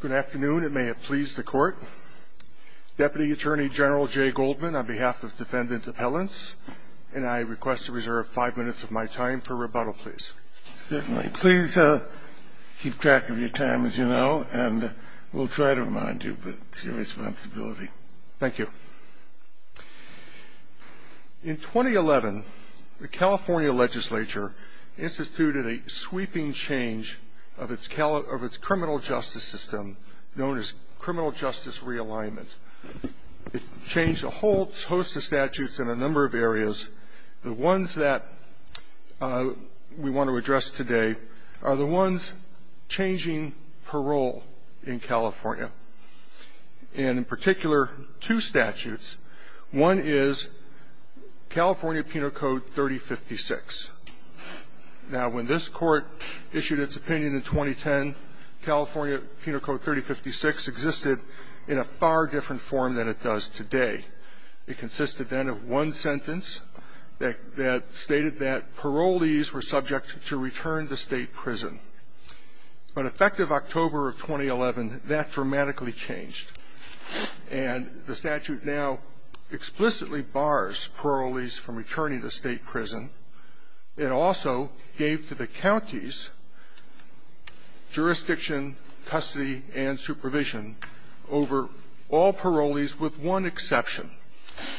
Good afternoon, and may it please the court. Deputy Attorney General Jay Goldman, on behalf of Defendant Appellants, and I request to reserve five minutes of my time for rebuttal, please. Certainly. Please keep track of your time, as you know, and we'll try to remind you, but it's your responsibility. Thank you. In 2011, the California legislature instituted a sweeping change of its criminal justice system known as criminal justice realignment. It changed a host of statutes in a number of areas. The ones that we want to address today are the ones changing parole in California, and in particular, two statutes. One is California Penal Code 3056. Now, when this Court issued its opinion in 2010, California Penal Code 3056 existed in a far different form than it does today. It consisted then of one sentence that stated that parolees were subject to return to state prison. But effective October of 2011, that dramatically changed, and the statute now explicitly bars parolees from returning to state prison. It also gave to the counties jurisdiction, custody, and supervision over all parolees with one exception,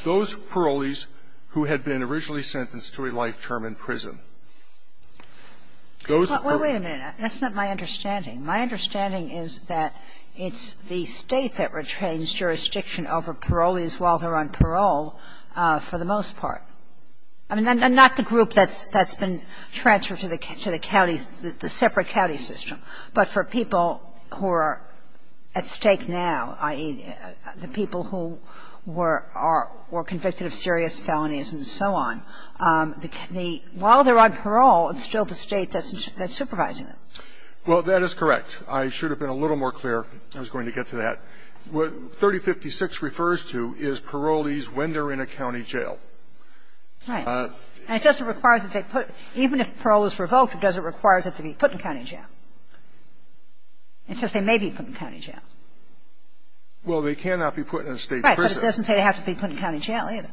those parolees who had been originally sentenced to a life term in prison. Those parolees who were originally sentenced to a life term in prison were not subject to a life term in prison. Wait a minute. That's not my understanding. My understanding is that it's the State that retains jurisdiction over parolees while they're on parole for the most part. I mean, and not the group that's been transferred to the counties, the separate county system, but for people who are at stake now, i.e., the people who were convicted of serious felonies and so on. While they're on parole, it's still the State that's supervising them. Well, that is correct. I should have been a little more clear. I was going to get to that. What 3056 refers to is parolees when they're in a county jail. Right. And it doesn't require that they put – even if parole is revoked, it doesn't require that they be put in county jail. It says they may be put in county jail. Well, they cannot be put in a State prison. Right. But it doesn't say they have to be put in county jail either.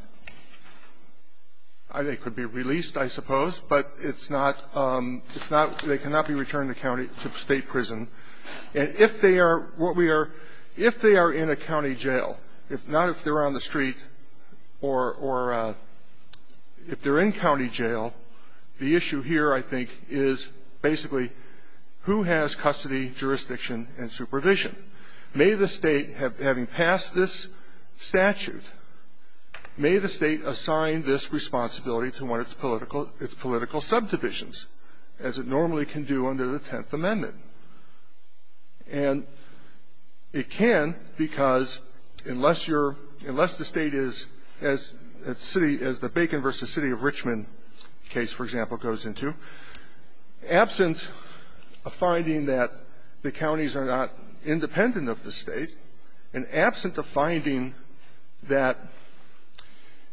They could be released, I suppose, but it's not – it's not – they cannot be returned to county – to State prison. And if they are what we are – if they are in a county jail, if not if they're on the street or – or if they're in county jail, the issue here, I think, is basically who has custody, jurisdiction, and supervision. May the State, having passed this statute, may the State assign this responsibility to one of its political – its political subdivisions, as it normally can do under the Tenth Amendment. And it can because unless you're – unless the State is, as the city – as the Bacon v. City of Richmond case, for example, goes into, absent a finding that the counties are not independent of the State, and absent a finding that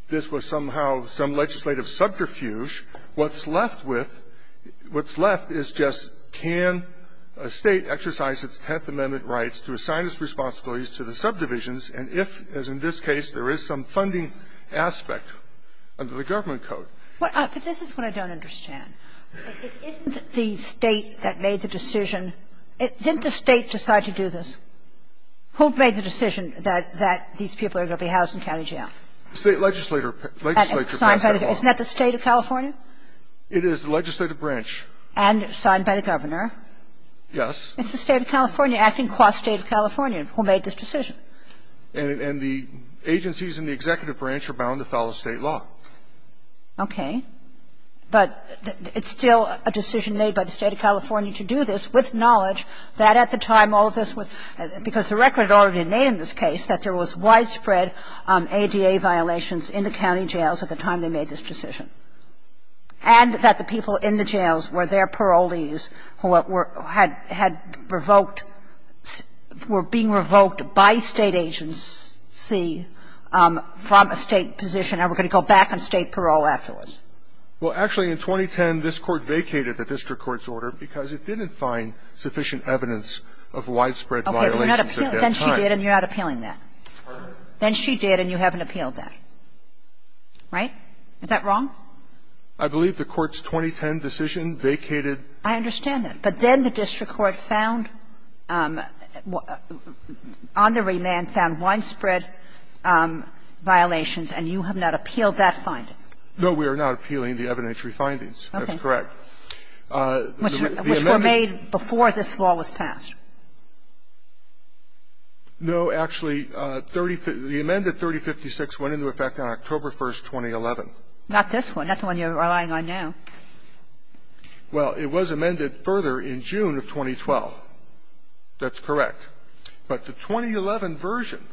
this was somehow some legislative subterfuge, what's left with – what's left is just can the State exercise its Tenth Amendment rights to assign its responsibilities to the subdivisions, and if, as in this case, there is some funding aspect under the government code. Kagan. But this is what I don't understand. Isn't the State that made the decision – didn't the State decide to do this? Who made the decision that these people are going to be housed in county jail? The State legislature passed that law. Isn't that the State of California? It is the legislative branch. And signed by the governor. Yes. It's the State of California, acting qua State of California, who made this decision. And the agencies in the executive branch are bound to follow State law. Okay. But it's still a decision made by the State of California to do this with knowledge that at the time all of this was – because the record had already made in this case that there was widespread ADA violations in the county jails at the time they made this decision. And that the people in the jails were their parolees who were – had revoked – were being revoked by State agency from a State position, and were going to go back on State parole afterwards. Well, actually, in 2010, this Court vacated the district court's order because it didn't find sufficient evidence of widespread violations at that time. Then she did, and you're not appealing that. Pardon me? Then she did, and you haven't appealed that. Right? Is that wrong? I believe the Court's 2010 decision vacated – I understand that. But then the district court found – on the remand found widespread violations, and you have not appealed that finding. No, we are not appealing the evidentiary findings. That's correct. Okay. Which were made before this law was passed. No, actually, 30 – the amended 3056 went into effect on October 1, 2011. Not this one. Not the one you're relying on now. Well, it was amended further in June of 2012. That's correct. But the 2011 version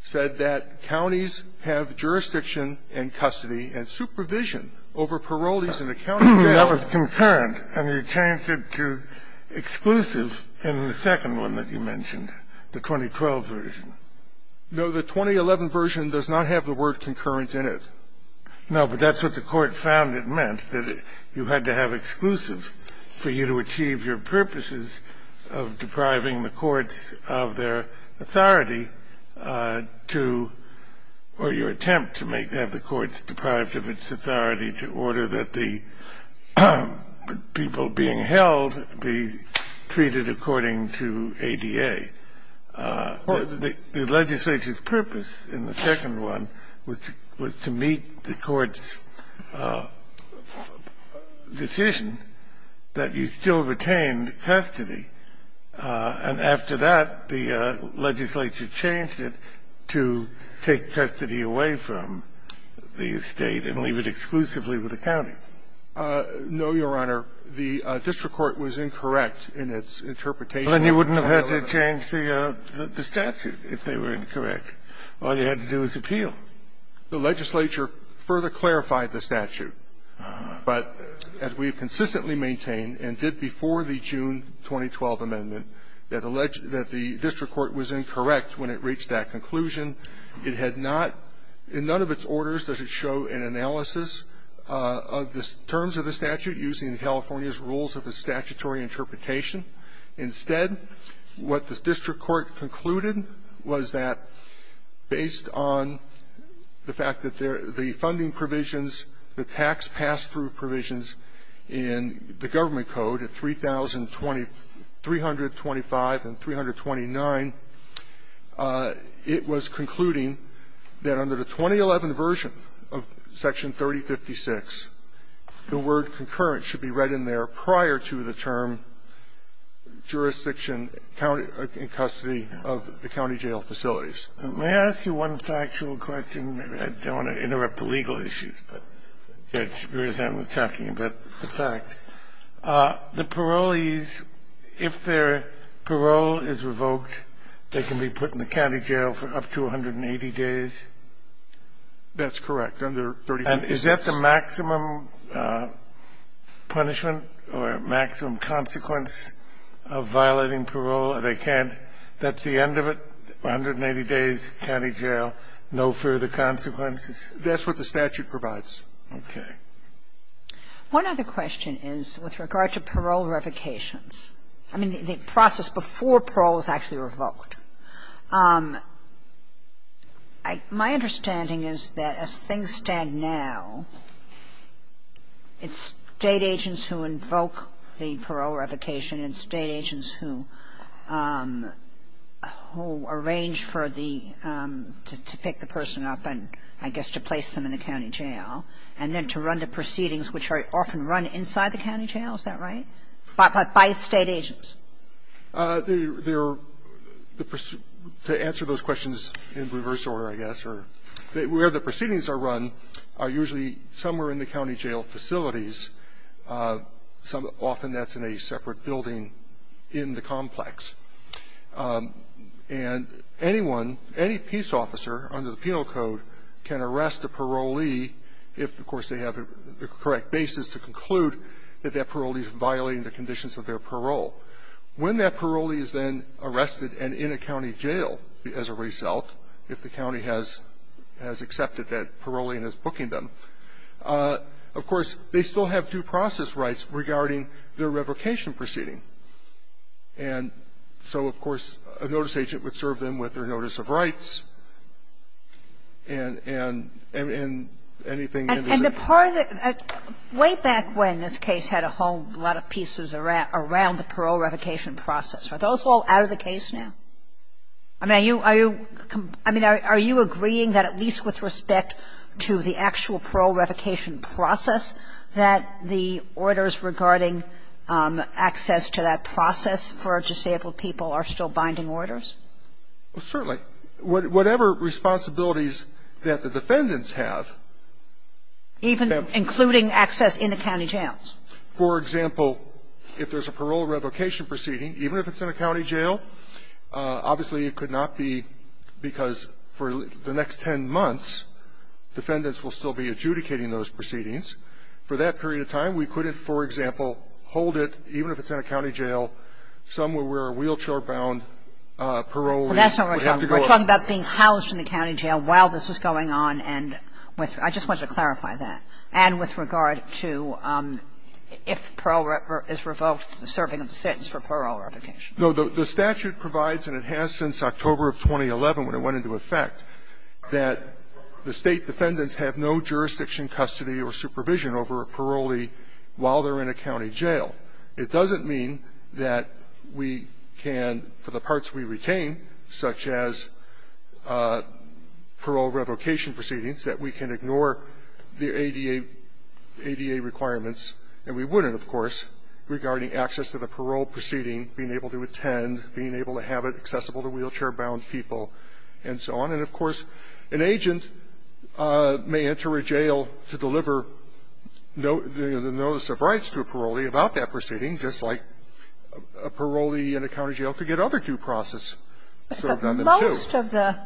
said that counties have jurisdiction and custody and supervision over parolees in a county jail. That was concurrent and you changed it to exclusive in the second one that you mentioned, the 2012 version. No, the 2011 version does not have the word concurrent in it. No, but that's what the Court found it meant, that you had to have exclusive for you to achieve your purposes of depriving the courts of their authority to – or your attempt to make – to have the courts deprived of its authority to order that the people being held be treated according to ADA. The legislature's purpose in the second one was to meet the court's decision that you still retained custody. And after that, the legislature changed it to take custody away from the State and leave it exclusively with the county. No, Your Honor. The district court was incorrect in its interpretation of that. Well, then you wouldn't have had to change the statute if they were incorrect. All you had to do was appeal. The legislature further clarified the statute, but as we have consistently maintained and did before the June 2012 amendment, that the district court was incorrect when it reached that conclusion. It had not – in none of its orders does it show an analysis of the terms of the statute using California's rules of the statutory interpretation. Instead, what the district court concluded was that, based on the fact that the funding provisions, the tax pass-through provisions in the Government Code at 3,325 and 329, it was concluding that under the 2011 version of Section 3056, the word concurrent should be read in there prior to the term jurisdiction, in custody of the county jail facilities. May I ask you one factual question? I don't want to interrupt the legal issues, but I'm just talking about the facts. The parolees, if their parole is revoked, they can be put in the county jail for up to 180 days? That's correct, under 3056. And is that the maximum punishment or maximum consequence of violating parole? They can't – that's the end of it, 180 days, county jail, no further consequences? That's what the statute provides. Okay. One other question is with regard to parole revocations. I mean, the process before parole is actually revoked. My understanding is that as things stand now, it's State agents who invoke the parole revocation and State agents who arrange for the – to pick the person up and, I guess, to place them in the county jail, and then to run the proceedings, which are often run inside the county jail, is that right, by State agents? They're – to answer those questions in reverse order, I guess, where the proceedings are run are usually somewhere in the county jail facilities. Often that's in a separate building in the complex. And anyone, any peace officer under the Penal Code can arrest a parolee if, of course, they have the correct basis to conclude that that parolee is violating the conditions of their parole. When that parolee is then arrested and in a county jail as a result, if the county has accepted that parolee and is booking them, of course, they still have due process rights regarding their revocation proceeding. And so, of course, a notice agent would serve them with their notice of rights and anything in the law. Kagan. I mean, I think that way back when this case had a whole lot of pieces around the parole revocation process, are those all out of the case now? I mean, are you – I mean, are you agreeing that at least with respect to the actual parole revocation process that the orders regarding access to that process for disabled people are still binding orders? Well, certainly. Whatever responsibilities that the defendants have can be used to do that. Even including access in the county jails? For example, if there's a parole revocation proceeding, even if it's in a county jail, obviously it could not be because for the next 10 months defendants will still be adjudicating those proceedings. For that period of time, we couldn't, for example, hold it, even if it's in a county jail, somewhere where a wheelchair-bound parolee would have to go up. We're talking about being housed in a county jail while this was going on and with – I just wanted to clarify that. And with regard to if parole is revoked, the serving of the sentence for parole revocation. No. The statute provides, and it has since October of 2011 when it went into effect, that the State defendants have no jurisdiction, custody or supervision over a parolee while they're in a county jail. It doesn't mean that we can, for the parts we retain, such as parole revocation proceedings, that we can ignore the ADA requirements, and we wouldn't, of course, regarding access to the parole proceeding, being able to attend, being able to have it accessible to wheelchair-bound people, and so on. And, of course, an agent may enter a jail to deliver the notice of rights to a parolee about that proceeding, just like a parolee in a county jail could get other due process sort of done, too. But most of the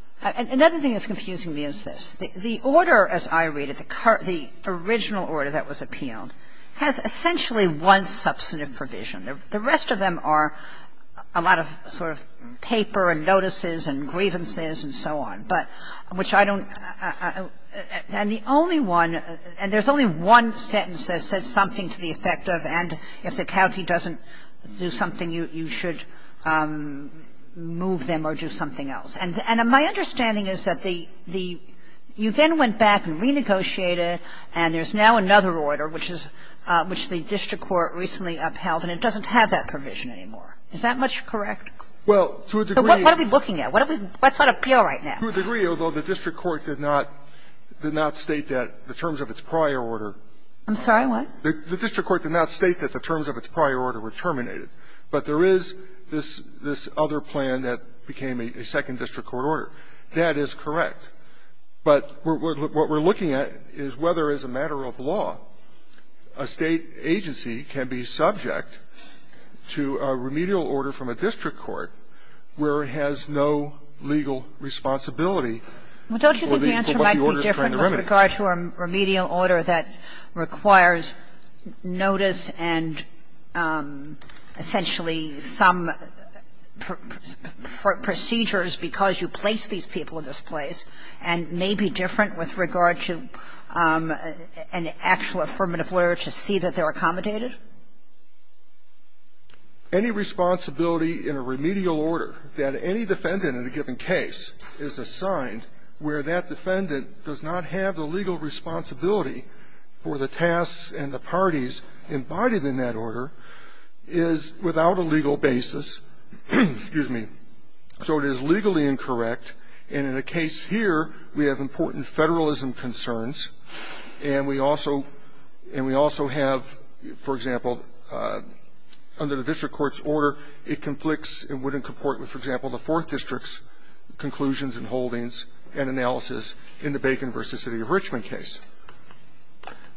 – another thing that's confusing me is this. The order, as I read it, the original order that was appealed, has essentially one substantive provision. The rest of them are a lot of sort of paper and notices and grievances and so on. But which I don't – and the only one – and there's only one sentence that says something to the effect of, and if the county doesn't do something, you should move them or do something else. And my understanding is that the – you then went back and renegotiated, and there's now another order, which is – which the district court recently upheld, and it doesn't have that provision anymore. Is that much correct? So what are we looking at? What's on appeal right now? To a degree, although the district court did not state that the terms of its prior order were terminated. I'm sorry, what? The district court did not state that the terms of its prior order were terminated. But there is this other plan that became a second district court order. That is correct. But what we're looking at is whether, as a matter of law, a State agency can be subject to a remedial order from a district court where it has no legal responsibility for what the order is trying to remedy. Well, don't you think the answer might be different with regard to a remedial order that requires notice and essentially some procedures because you place these people in this place, and may be different with regard to an actual affirmative order to see that they're accommodated? Any responsibility in a remedial order that any defendant in a given case is assigned where that defendant does not have the legal responsibility for the tasks and the parties embodied in that order is without a legal basis. Excuse me. So it is legally incorrect. And in a case here, we have important Federalism concerns, and we also have, for example, under the district court's order, it conflicts and wouldn't comport with, for example, the Fourth District's conclusions and holdings and analysis in the Bacon v. City of Richmond case.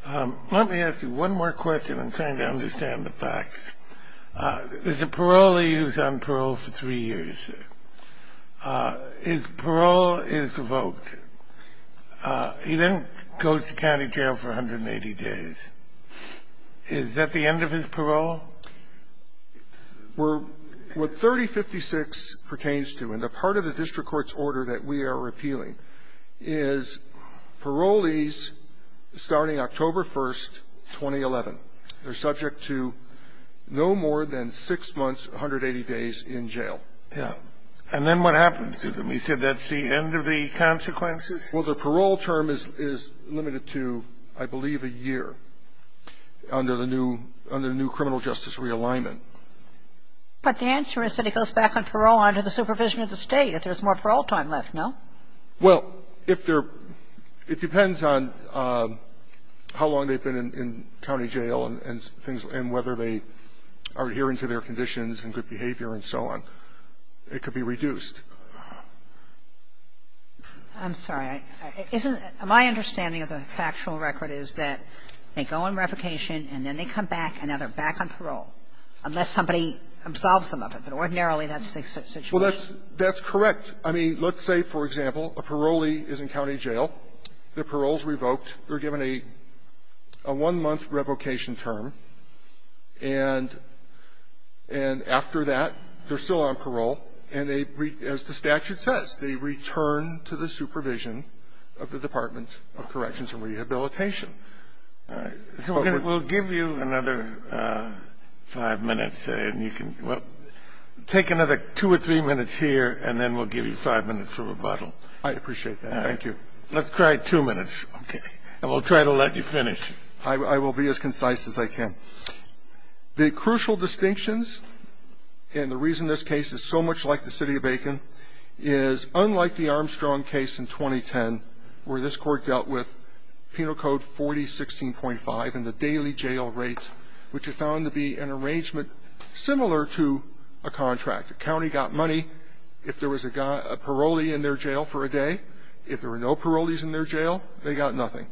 Let me ask you one more question. I'm trying to understand the facts. Is the parolee who's on parole for three years, his parole is revoked. He then goes to county jail for 180 days. Is that the end of his parole? We're 3056 pertains to, and a part of the district court's order that we are repealing is parolees starting October 1st, 2011, they're subject to no more than six months, 180 days in jail. Yeah. And then what happens to them? You said that's the end of the consequences? Well, the parole term is limited to, I believe, a year under the new criminal justice realignment. But the answer is that he goes back on parole under the supervision of the State if there's more parole time left, no? Well, if there – it depends on how long they've been in county jail and things – and whether they are adhering to their conditions and good behavior and so on. It could be reduced. I'm sorry. Isn't – my understanding of the factual record is that they go on revocation and then they come back and now they're back on parole, unless somebody absolves them of it. But ordinarily, that's the situation. Well, that's correct. I mean, let's say, for example, a parolee is in county jail. Their parole is revoked. They're given a one-month revocation term, and after that, they're still on parole. And they, as the statute says, they return to the supervision of the Department of Corrections and Rehabilitation. All right. We'll give you another five minutes, and you can – well, take another two or three minutes here, and then we'll give you five minutes for rebuttal. I appreciate that. Thank you. Let's try two minutes, okay? And we'll try to let you finish. I will be as concise as I can. The crucial distinctions, and the reason this case is so much like the City of Bacon, is unlike the Armstrong case in 2010, where this Court dealt with Penal Code 4016.5 and the daily jail rate, which is found to be an arrangement similar to a contract. A county got money if there was a parolee in their jail for a day. If there were no parolees in their jail, they got nothing.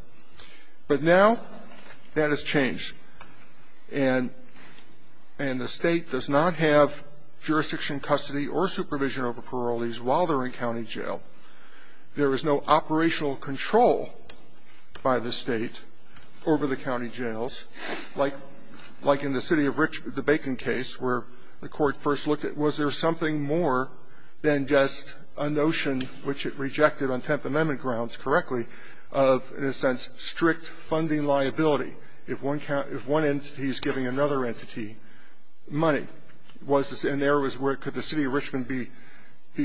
But now that has changed. And the State does not have jurisdiction, custody, or supervision over parolees while they're in county jail. There is no operational control by the State over the county jails, like in the City of Richmond, the Bacon case, where the Court first looked at was there something more than just a notion, which it rejected on Tenth Amendment grounds correctly, of, in a sense, strict funding liability. If one entity is giving another entity money, was this an area where could the City of Richmond be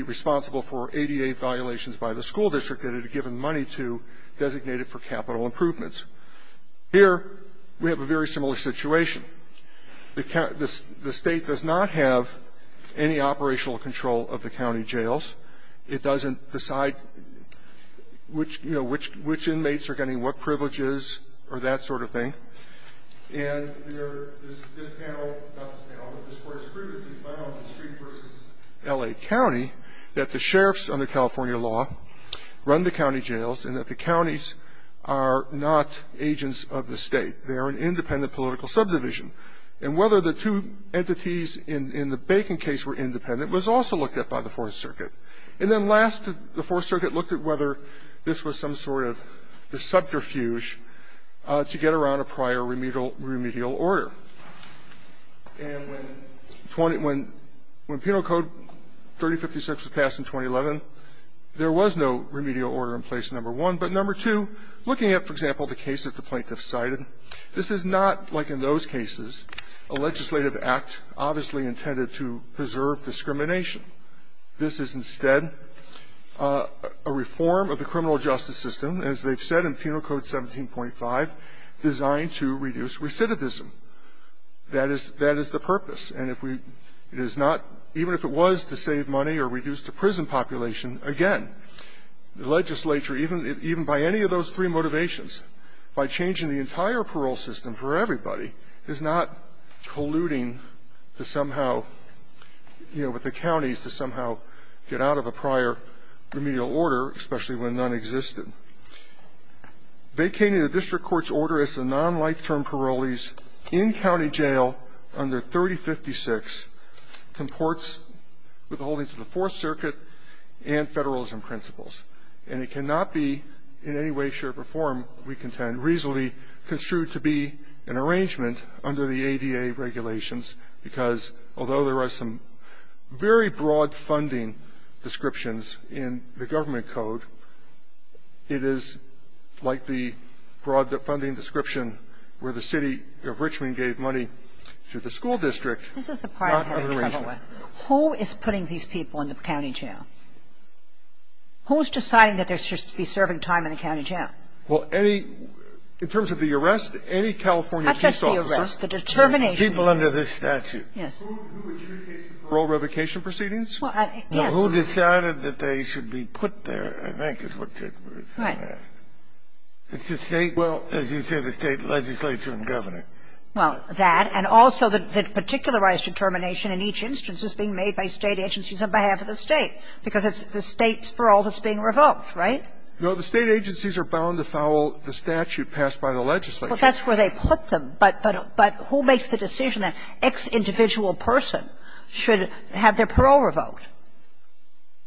responsible for ADA violations by the school district that it had given money to designated for capital improvements? Here we have a very similar situation. The State does not have any operational control of the county jails. It doesn't decide which, you know, which inmates are getting what privileges or that sort of thing. And this panel, not this panel, but this Court has previously found in Street v. L.A. County that the sheriffs under California law run the county jails and that the counties are not agents of the State. They are an independent political subdivision. And whether the two entities in the Bacon case were independent was also looked at by the Fourth Circuit. And then last, the Fourth Circuit looked at whether this was some sort of a subterfuge to get around a prior remedial order. And when Penal Code 3056 was passed in 2011, there was no remedial order in place, number one. But number two, looking at, for example, the case that the plaintiff cited, this is not like in those cases, a legislative act obviously intended to preserve discrimination. This is instead a reform of the criminal justice system, as they've said in Penal Code 17.5, designed to reduce recidivism. That is the purpose. And if we do not, even if it was to save money or reduce the prison population, again, the legislature, even by any of those three motivations, by changing the entire parole system for everybody, is not colluding to somehow, you know, with the counties to somehow get out of a prior remedial order, especially when none existed. Vacating the district court's order as to non-life-term parolees in county jail under 3056 comports with the holdings of the Fourth Circuit and federalism principles. And it cannot be in any way, shape, or form, we contend, reasonably construed to be an arrangement under the ADA regulations, because although there are some very broad funding descriptions in the government code, it is like the broad funding description where the city of Richmond gave money to the school district, not under Sotomayor, this is the part I'm having trouble with. Who is putting these people in the county jail? Who is deciding that they're supposed to be serving time in a county jail? Well, any – in terms of the arrest, any California police officer – Not just the arrest, the determination. People under this statute. Yes. Who adjudicates the parole revocation proceedings? Well, I – yes. Now, who decided that they should be put there, I think, is what's being asked. Right. It's the State – well, as you say, the State legislature and governor. Well, that, and also the particularized determination in each instance is being made by State agencies on behalf of the State, because it's the State's parole that's being revoked, right? No, the State agencies are bound to fowl the statute passed by the legislature. Well, that's where they put them, but who makes the decision? An ex-individual person should have their parole revoked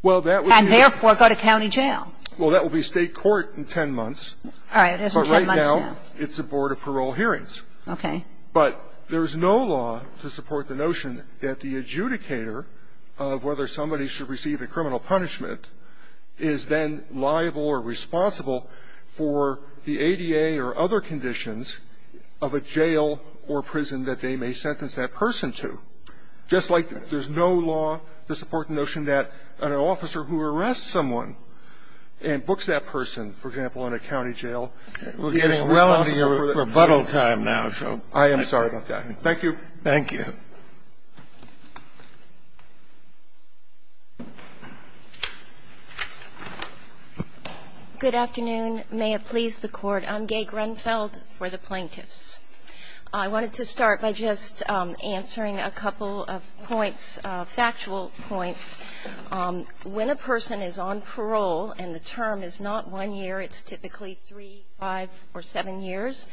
and, therefore, go to county jail. Well, that will be State court in 10 months. All right. It is in 10 months now. But right now, it's a board of parole hearings. Okay. But there is no law to support the notion that the adjudicator of whether somebody should receive a criminal punishment is then liable or responsible for the ADA or other conditions of a jail or prison that they may sentence that person to, just like there's no law to support the notion that an officer who arrests someone and books that person, for example, in a county jail, will be responsible for the penalty. I am sorry about that. Thank you. Good afternoon. May it please the Court. I'm Gay Grunfeld for the Plaintiffs. I wanted to start by just answering a couple of points, factual points. When a person is on parole and the term is not one year, it's typically three, five, or seven years,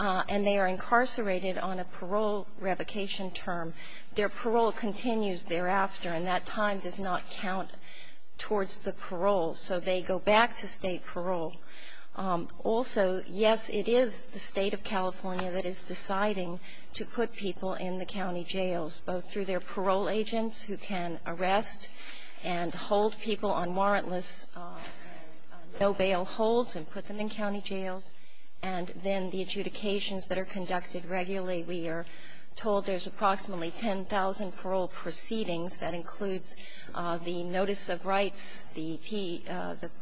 and they are incarcerated on a parole revocation term, their parole continues thereafter, and that time does not count towards the parole. So they go back to State parole. Also, yes, it is the State of California that is deciding to put people in the county jails, both through their parole agents who can arrest and hold people on warrantless no-bail holds and put them in county jails, and then the adjudications that are conducted regularly. We are told there's approximately 10,000 parole proceedings. That includes the notice of rights, the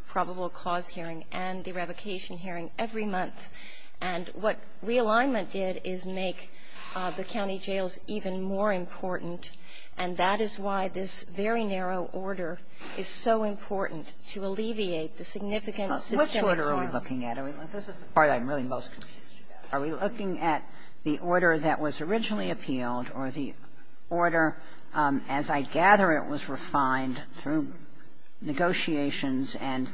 probable cause hearing, and the revocation hearing every month. And what realignment did is make the county jails even more important, and that is why this very narrow order is so important to alleviate the significant systemic harm. Which order are we looking at? This is the part I'm really most confused about. Are we looking at the order that was originally appealed or the order, as I said, the order that was appealed, that the State gatherer was refined through negotiations and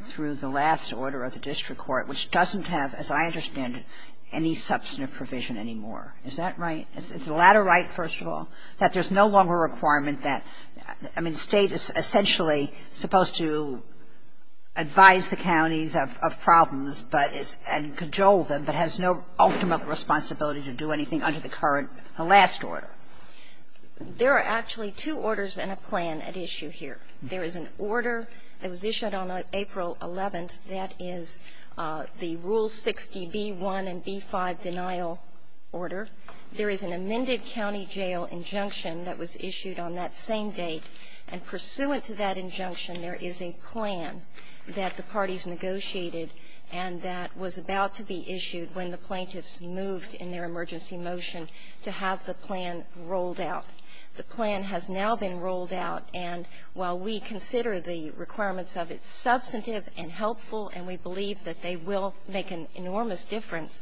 through the last order of the district court, which doesn't have, as I understand it, any substantive provision anymore. Is that right? Is the latter right, first of all? That there's no longer a requirement that the State is essentially supposed to advise the counties of problems and cajole them, but has no ultimate responsibility to do anything under the current last order. There are actually two orders and a plan at issue here. There is an order that was issued on April 11th that is the Rule 60b-1 and b-5 denial order. There is an amended county jail injunction that was issued on that same date, and pursuant to that injunction, there is a plan that the parties negotiated and that was about to be issued when the plaintiffs moved in their emergency motion to have the plan rolled out. The plan has now been rolled out, and while we consider the requirements of it substantive and helpful, and we believe that they will make an enormous difference,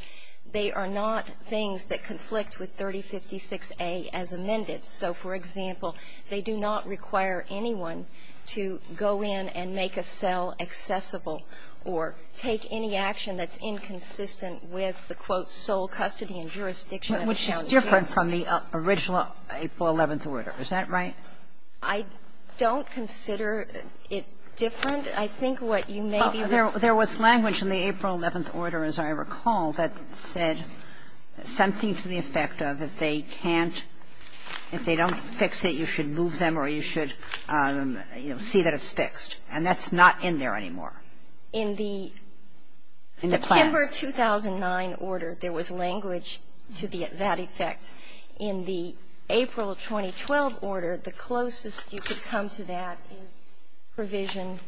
they are not things that conflict with 3056a as amended. So, for example, they do not require anyone to go in and make a cell accessible or take any action that's inconsistent with the, quote, sole custody and jurisdiction of a county jail. Sotomayor, which is different from the original April 11th order. Is that right? I don't consider it different. I think what you may be referring to is that there was language in the April 11th order, as I recall, that said something to the effect of if they can't, if they don't fix it, you should move them or you should, you know, see that it's fixed. And that's not in there anymore. In the September 2009 order, there was language to that effect. In the April 2012 order, the closest you could come to that is provision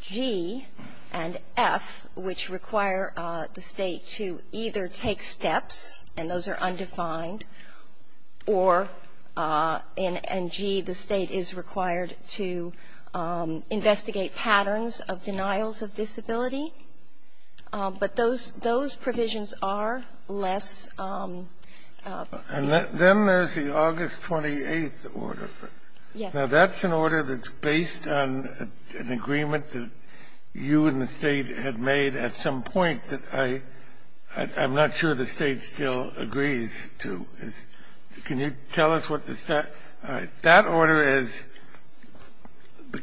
G and F, which require the State to either take steps, and those are undefined, or in G, the State is required to investigate patterns of denials of disability. But those provisions are less. And then there's the August 28th order. Yes. Now, that's an order that's based on an agreement that you and the State had made at some point that I'm not sure the State still agrees to. Can you tell us what the State – that order is,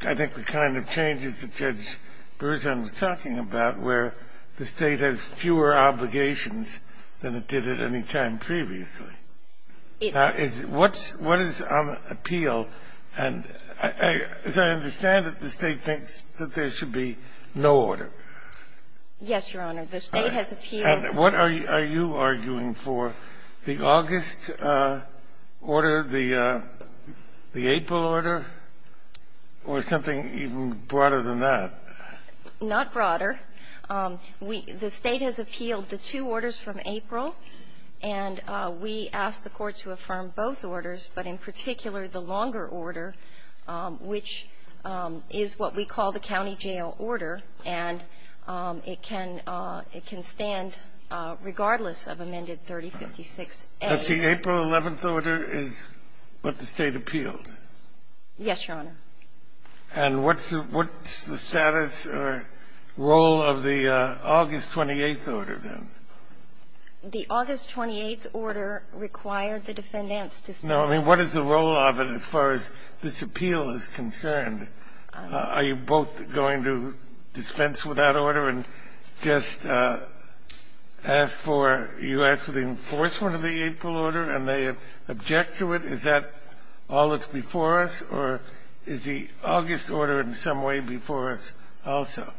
I think, the kind of changes that Judge Berzin was talking about, where the State has fewer obligations than it did at any time previously. Now, is – what's – what is on appeal? And as I understand it, the State thinks that there should be no order. Yes, Your Honor. The State has appealed to the State. And what are you arguing for? The August order, the April order, or something even broader than that? Not broader. We – the State has appealed the two orders from April, and we asked the Court to affirm both orders, but in particular, the longer order, which is what we call the county jail order, and it can – it can stand regardless of amended 3056A. But the April 11th order is what the State appealed? Yes, Your Honor. And what's the – what's the status or role of the August 28th order, then? The August 28th order required the defendants to say – No, I mean, what is the role of it as far as this appeal is concerned? Are you both going to dispense with that order and just ask for – you ask for the enforcement of the April order, and they object to it? Is that all that's before us, or is the August order in some way before us also?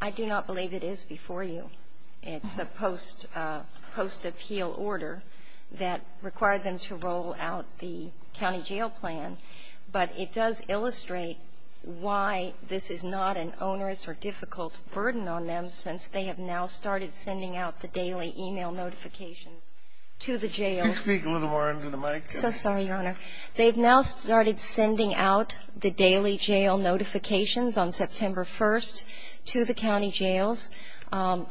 I do not believe it is before you. It's a post-appeal order that required them to roll out the county jail plan. But it does illustrate why this is not an onerous or difficult burden on them, since they have now started sending out the daily e-mail notifications to the jails. Can you speak a little more into the mic? So sorry, Your Honor. They've now started sending out the daily jail notifications on September 1st to the county jails,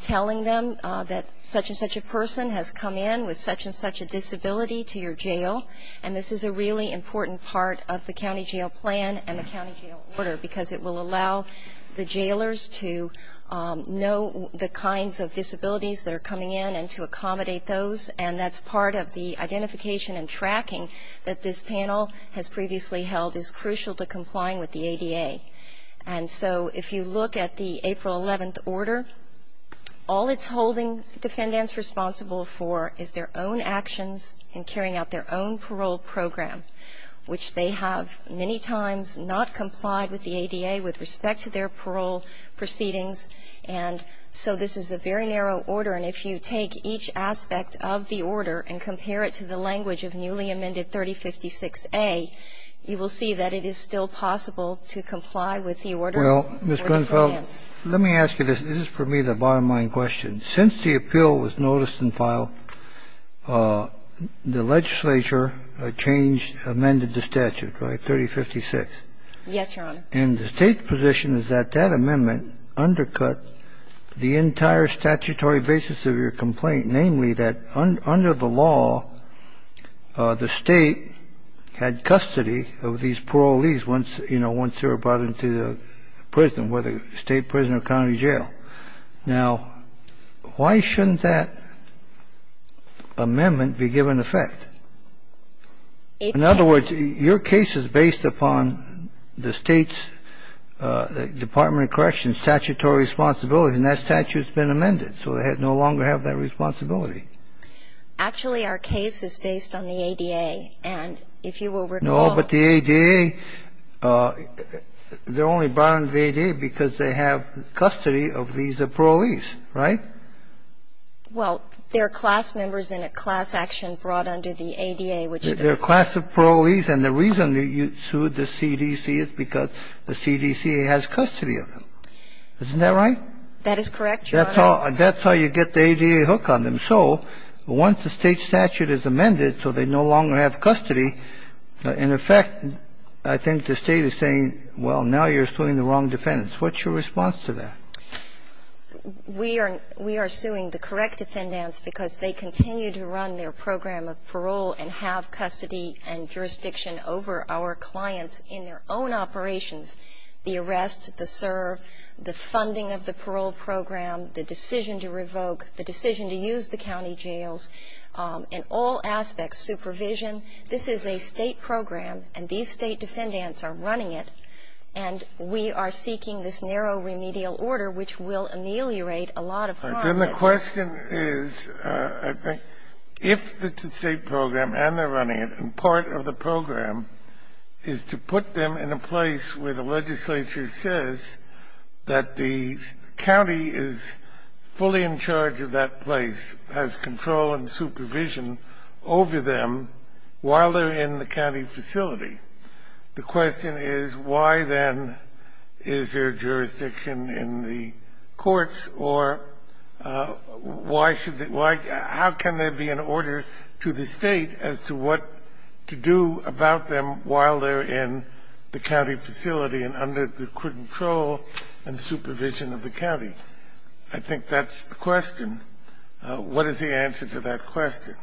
telling them that such and such a person has come in with such and such a disability to your jail. And this is a really important part of the county jail plan and the county jail order, because it will allow the jailers to know the kinds of disabilities that are coming in and to accommodate those. And that's part of the identification and tracking that this panel has previously held is crucial to complying with the ADA. And so if you look at the April 11th order, all it's holding defendants responsible for is their own actions in carrying out their own parole program, which they have many times not complied with the ADA with respect to their parole proceedings. And so this is a very narrow order. And if you take each aspect of the order and compare it to the language of newly amended 3056a, you will see that it is still possible to comply with the order. Well, Ms. Grunfeld, let me ask you this. This is for me the bottom-line question. Since the appeal was noticed and filed, the legislature changed, amended the statute, right? 3056? Yes, Your Honor. And the state's position is that that amendment undercut the entire statutory basis of your complaint, namely that under the law, the state had custody of these parolees once they were brought into the prison, whether state prison or county jail. Now, why shouldn't that amendment be given effect? In other words, your case is based upon the State's Department of Corrections statutory responsibility, and that statute's been amended, so they no longer have that responsibility. Actually, our case is based on the ADA, and if you will recall the ADA, they're the State's Department of Corrections, so they no longer have custody of these parolees, right? Well, they're class members in a class action brought under the ADA, which the Federal Court of Appeals. They're a class of parolees, and the reason that you sued the CDC is because the CDC has custody of them. Isn't that right? That is correct, Your Honor. That's how you get the ADA hook on them. And so once the State statute is amended so they no longer have custody, in effect, I think the State is saying, well, now you're suing the wrong defendants. What's your response to that? We are suing the correct defendants because they continue to run their program of parole and have custody and jurisdiction over our clients in their own operations, the arrest, the serve, the funding of the parole program, the decision to revoke, the decision to use the county jails, in all aspects, supervision. This is a State program, and these State defendants are running it, and we are seeking this narrow remedial order, which will ameliorate a lot of problems. Then the question is, I think, if it's a State program and they're running it, and part of the program is to put them in a place where the legislature says that the judge of that place has control and supervision over them while they're in the county facility, the question is, why, then, is there jurisdiction in the courts, or why should they – how can there be an order to the State as to what to do about them while they're in the county facility and under the control and supervision of the county? And I think that's the question. What is the answer to that question?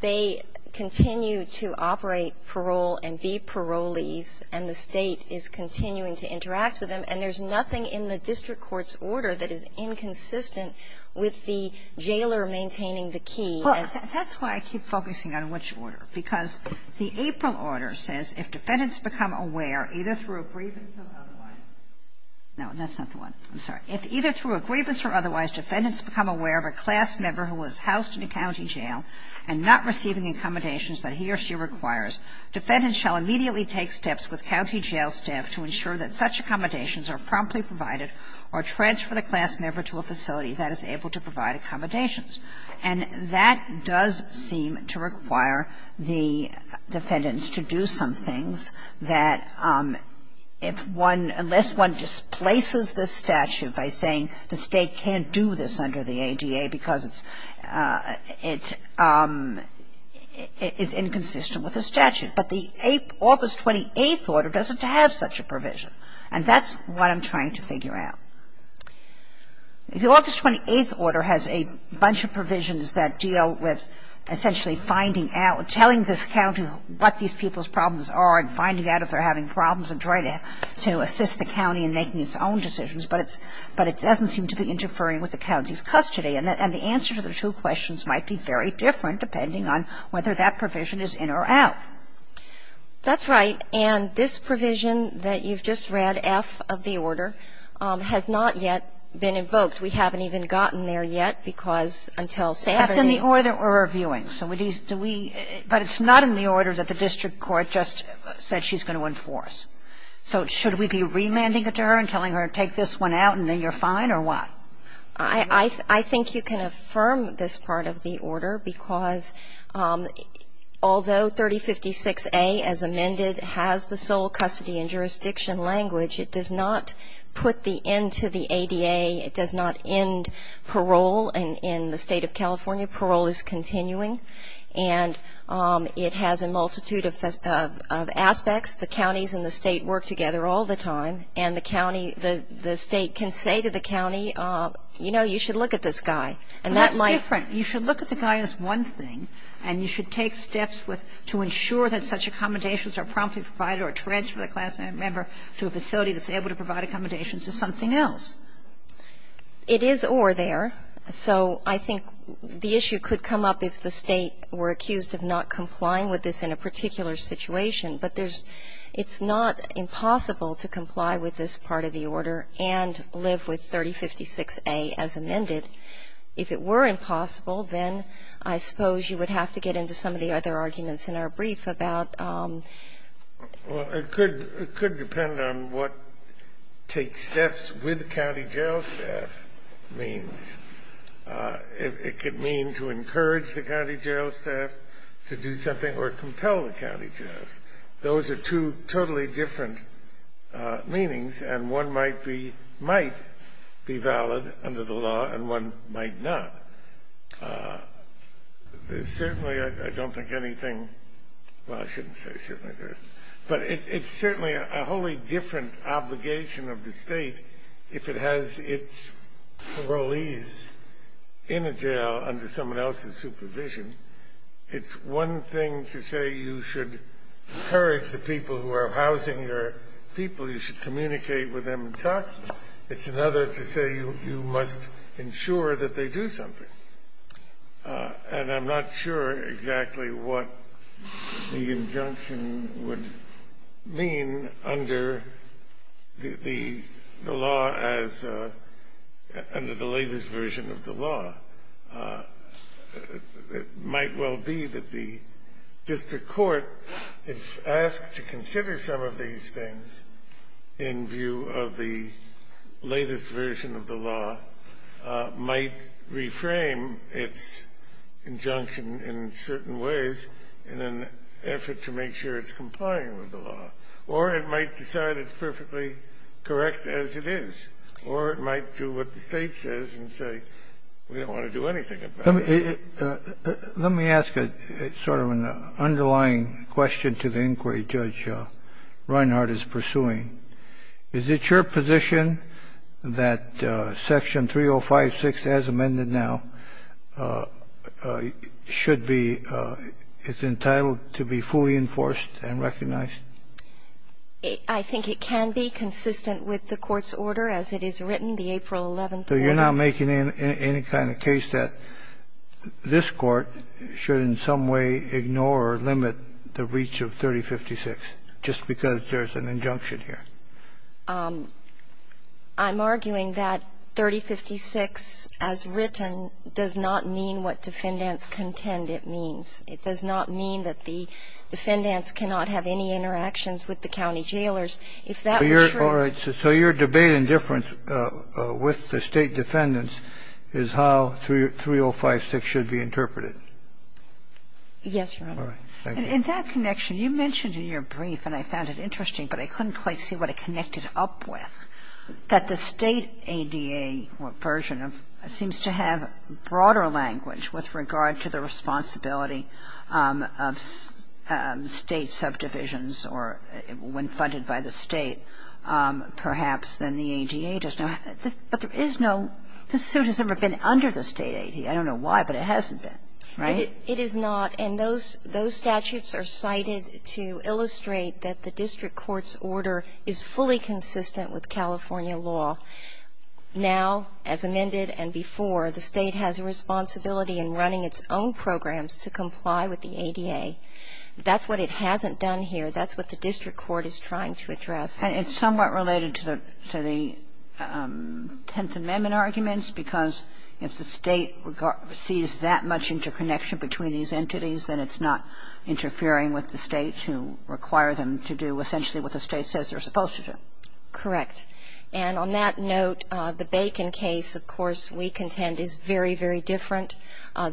They continue to operate parole and be parolees, and the State is continuing to interact with them, and there's nothing in the district court's order that is inconsistent with the jailer maintaining the key as to what to do. That's why I keep focusing on which order, because the April order says, if defendants become aware, either through a grievance or otherwise – no, that's not the one. I'm sorry. If either through a grievance or otherwise defendants become aware of a class member who was housed in a county jail and not receiving accommodations that he or she requires, defendants shall immediately take steps with county jail staff to ensure that such accommodations are promptly provided or transfer the class member to a facility that is able to provide accommodations. And that does seem to require the defendants to do some things that, if one – unless one displaces this statute by saying the State can't do this under the ADA because it's – it is inconsistent with the statute. But the August 28th order doesn't have such a provision, and that's what I'm trying to figure out. The August 28th order has a bunch of provisions that deal with essentially finding out – telling this county what these people's problems are and finding out if they're having problems and trying to assist the county in making its own decisions. But it's – but it doesn't seem to be interfering with the county's custody. And the answer to the two questions might be very different, depending on whether that provision is in or out. That's right. And this provision that you've just read, F of the order, has not yet been invoked. We haven't even gotten there yet because until Saturday – That's in the order we're reviewing. So do we – but it's not in the order that the district court just said she's going to enforce. So should we be remanding it to her and telling her, take this one out and then you're fine, or what? I think you can affirm this part of the order because although 3056A as amended has the sole custody and jurisdiction language, it does not put the end to the ADA. It does not end parole in the State of California. Parole is continuing. And it has a multitude of aspects. The counties and the State work together all the time. And the county – the State can say to the county, you know, you should look at this guy. And that might – But that's different. You should look at the guy as one thing, and you should take steps with – to ensure that such accommodations are promptly provided or transfer the class member to a facility that's able to provide accommodations as something else. It is or there. So I think the issue could come up if the State were accused of not complying with this in a particular situation. But there's – it's not impossible to comply with this part of the order and live with 3056A as amended. If it were impossible, then I suppose you would have to get into some of the other arguments in our brief about – It could mean to encourage the county jail staff to do something or compel the county jails. Those are two totally different meanings. And one might be – might be valid under the law, and one might not. Certainly, I don't think anything – well, I shouldn't say certainly there isn't. But it's certainly a wholly different obligation of the State if it has its parolees in a jail under someone else's supervision. It's one thing to say you should encourage the people who are housing your people. You should communicate with them and talk to them. It's another to say you must ensure that they do something. And I'm not sure exactly what the injunction would mean under the law as – as a version of the law. It might well be that the district court, if asked to consider some of these things in view of the latest version of the law, might reframe its injunction in certain ways in an effort to make sure it's complying with the law. Or it might decide it's perfectly correct as it is. Or it might do what the State says and say, we don't want to do anything about it. Let me ask a sort of an underlying question to the inquiry Judge Reinhart is pursuing. Is it your position that Section 305-6, as amended now, should be – is entitled to be fully enforced and recognized? I think it can be consistent with the Court's order as it is written, the April 11th order. So you're not making any kind of case that this Court should in some way ignore or limit the reach of 3056 just because there's an injunction here? I'm arguing that 3056 as written does not mean what defendants contend it means. It does not mean that the defendants cannot have any interactions with the county jailers. If that were true – All right. So your debate and difference with the State defendants is how 3056 should be interpreted? Yes, Your Honor. All right. Thank you. In that connection, you mentioned in your brief, and I found it interesting, but I couldn't quite see what it connected up with, that the State ADA version seems to have broader language with regard to the responsibility of State subdivisions or when funded by the State, perhaps, than the ADA does now. But there is no – this suit has never been under the State ADA. I don't know why, but it hasn't been, right? It is not. And those statutes are cited to illustrate that the district court's order is fully consistent with California law. Now, as amended and before, the State has a responsibility in running its own programs to comply with the ADA. That's what it hasn't done here. That's what the district court is trying to address. And it's somewhat related to the Tenth Amendment arguments, because if the State sees that much interconnection between these entities, then it's not interfering with the State to require them to do essentially what the State says they're supposed to do. Correct. And on that note, the Bacon case, of course, we contend is very, very different.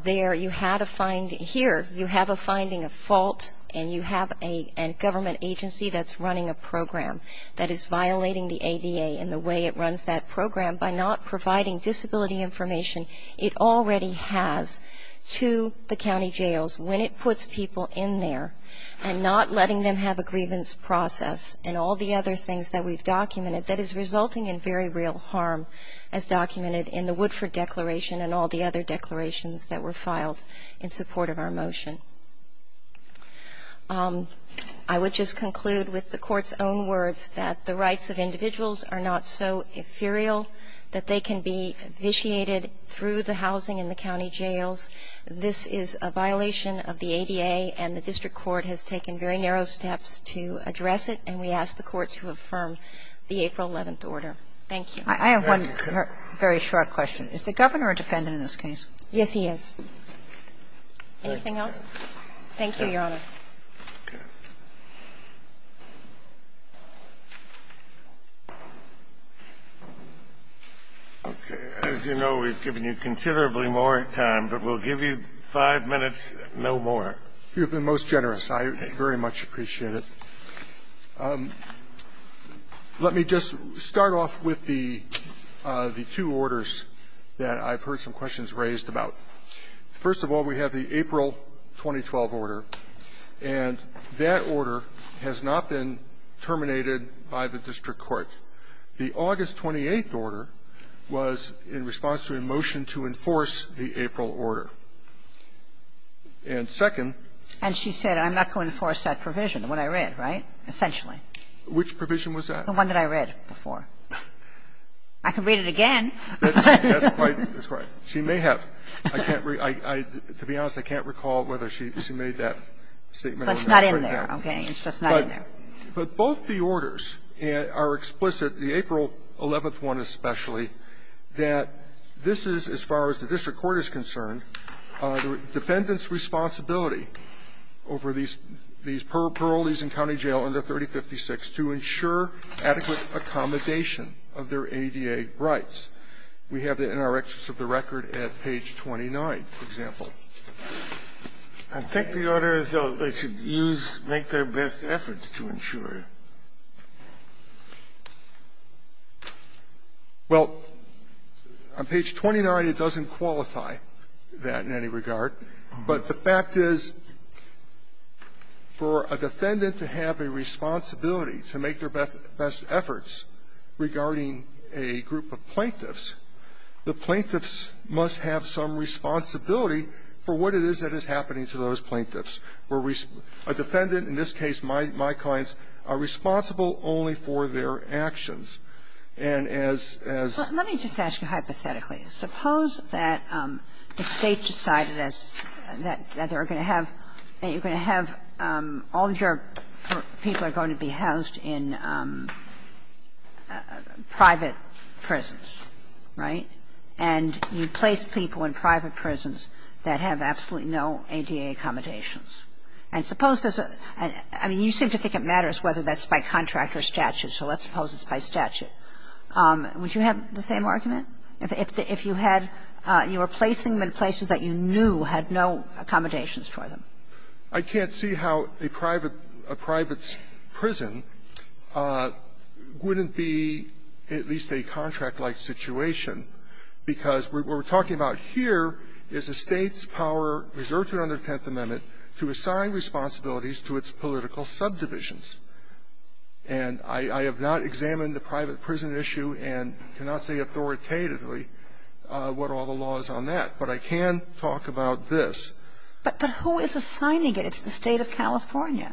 There, you had a – here, you have a finding of fault, and you have a government agency that's running a program that is violating the ADA and the way it runs that program by not providing disability information it already has to the county jails when it puts people in there and not letting them have a grievance process and all the other things that we've documented that is resulting in very real harm, as documented in the Woodford Declaration and all the other declarations that were filed in support of our motion. I would just conclude with the Court's own words that the rights of individuals are not so ethereal that they can be vitiated through the housing in the county jails. This is a violation of the ADA, and the district court has taken very narrow steps to address it, and we ask the Court to affirm the April 11th order. Thank you. I have one very short question. Is the Governor a defendant in this case? Yes, he is. Anything else? Thank you, Your Honor. Okay. As you know, we've given you considerably more time, but we'll give you five minutes, no more. You've been most generous. I very much appreciate it. Let me just start off with the two orders that I've heard some questions raised about. First of all, we have the April 2012 order, and that order has not been terminated by the district court. The August 28th order was in response to a motion to enforce the April order. And second --" I'm not going to enforce that provision, the one I read, right, essentially. Which provision was that? The one that I read before. I can read it again. That's right. She may have. I can't read to be honest, I can't recall whether she made that statement. But it's not in there, okay? It's just not in there. But both the orders are explicit, the April 11th one especially, that this is, as far as the district court is concerned, defendant's responsibility over these parolees in county jail under 3056 to ensure adequate accommodation of their ADA rights. We have that in our excess of the record at page 29, for example. I think the order is that they should use or make their best efforts to ensure. Well, on page 29, it doesn't qualify that in any regard. But the fact is, for a defendant to have a responsibility to make their best efforts regarding a group of plaintiffs, the plaintiffs must have some responsibility for what it is that is happening to those plaintiffs. A defendant, in this case, my clients, are responsible only for their actions. And as as ---- But let me just ask you hypothetically. Suppose that the State decided that they were going to have, that you were going to have, all of your people are going to be housed in private prisons, right? And you place people in private prisons that have absolutely no ADA accommodations. And suppose this ---- I mean, you seem to think it matters whether that's by contract or statute, so let's suppose it's by statute. Would you have the same argument, if you had ---- you were placing them in places that you knew had no accommodations for them? I can't see how a private prison wouldn't be at least a contract-like situation because what we're talking about here is a State's power reserved to it under the Tenth Amendment to assign responsibilities to its political subdivisions. And I have not examined the private prison issue and cannot say authoritatively what all the law is on that, but I can talk about this. But who is assigning it? It's the State of California.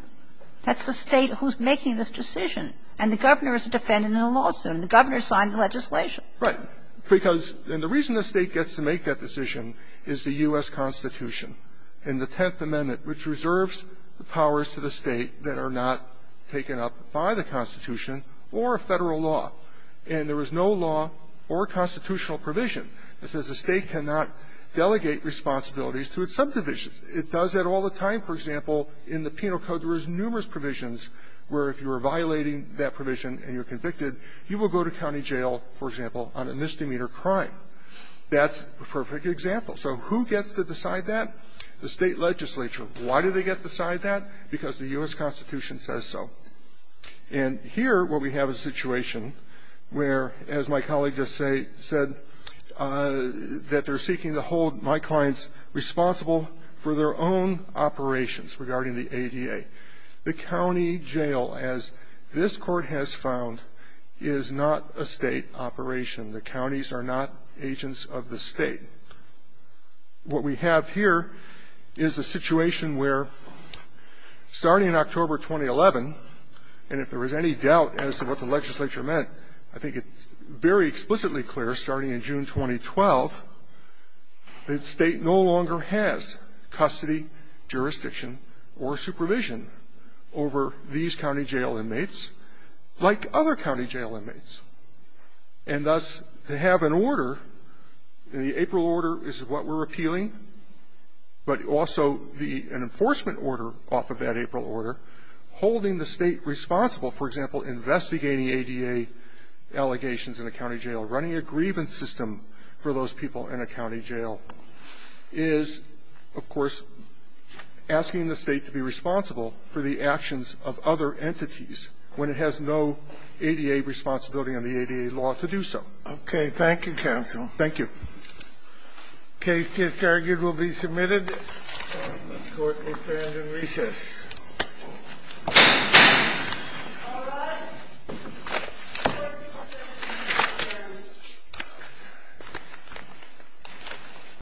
That's the State who's making this decision. And the governor is a defendant in a lawsuit, and the governor signed the legislation. Right. Because ---- and the reason the State gets to make that decision is the U.S. Constitution and the Tenth Amendment, which reserves the powers to the State that are not taken up by the Constitution or a Federal law. And there is no law or constitutional provision that says the State cannot delegate responsibilities to its subdivisions. It does that all the time. For example, in the Penal Code, there is numerous provisions where if you are violating that provision and you're convicted, you will go to county jail, for example, on a misdemeanor crime. That's a perfect example. So who gets to decide that? The State legislature. Why do they get to decide that? Because the U.S. Constitution says so. And here what we have is a situation where, as my colleague just said, that they're seeking to hold my clients responsible for their own operations regarding the ADA. The county jail, as this Court has found, is not a State operation. The counties are not agents of the State. What we have here is a situation where, starting in October 2011, and if there was any doubt as to what the legislature meant, I think it's very explicitly clear, starting in June 2012, the State no longer has custody, jurisdiction, or supervision over these county jail inmates like other county jail inmates. And thus, to have an order, the April order is what we're appealing, but also the enforcement order off of that April order, holding the State responsible, for example, investigating ADA allegations in a county jail, running a grievance system for those people in a county jail, is, of course, asking the State to be responsible for the actions of other entities when it has no ADA responsibility on the ADA law to do so. Okay. Thank you, counsel. Thank you. The case, as targeted, will be submitted. The Court will stand in recess. All rise. Court is adjourned.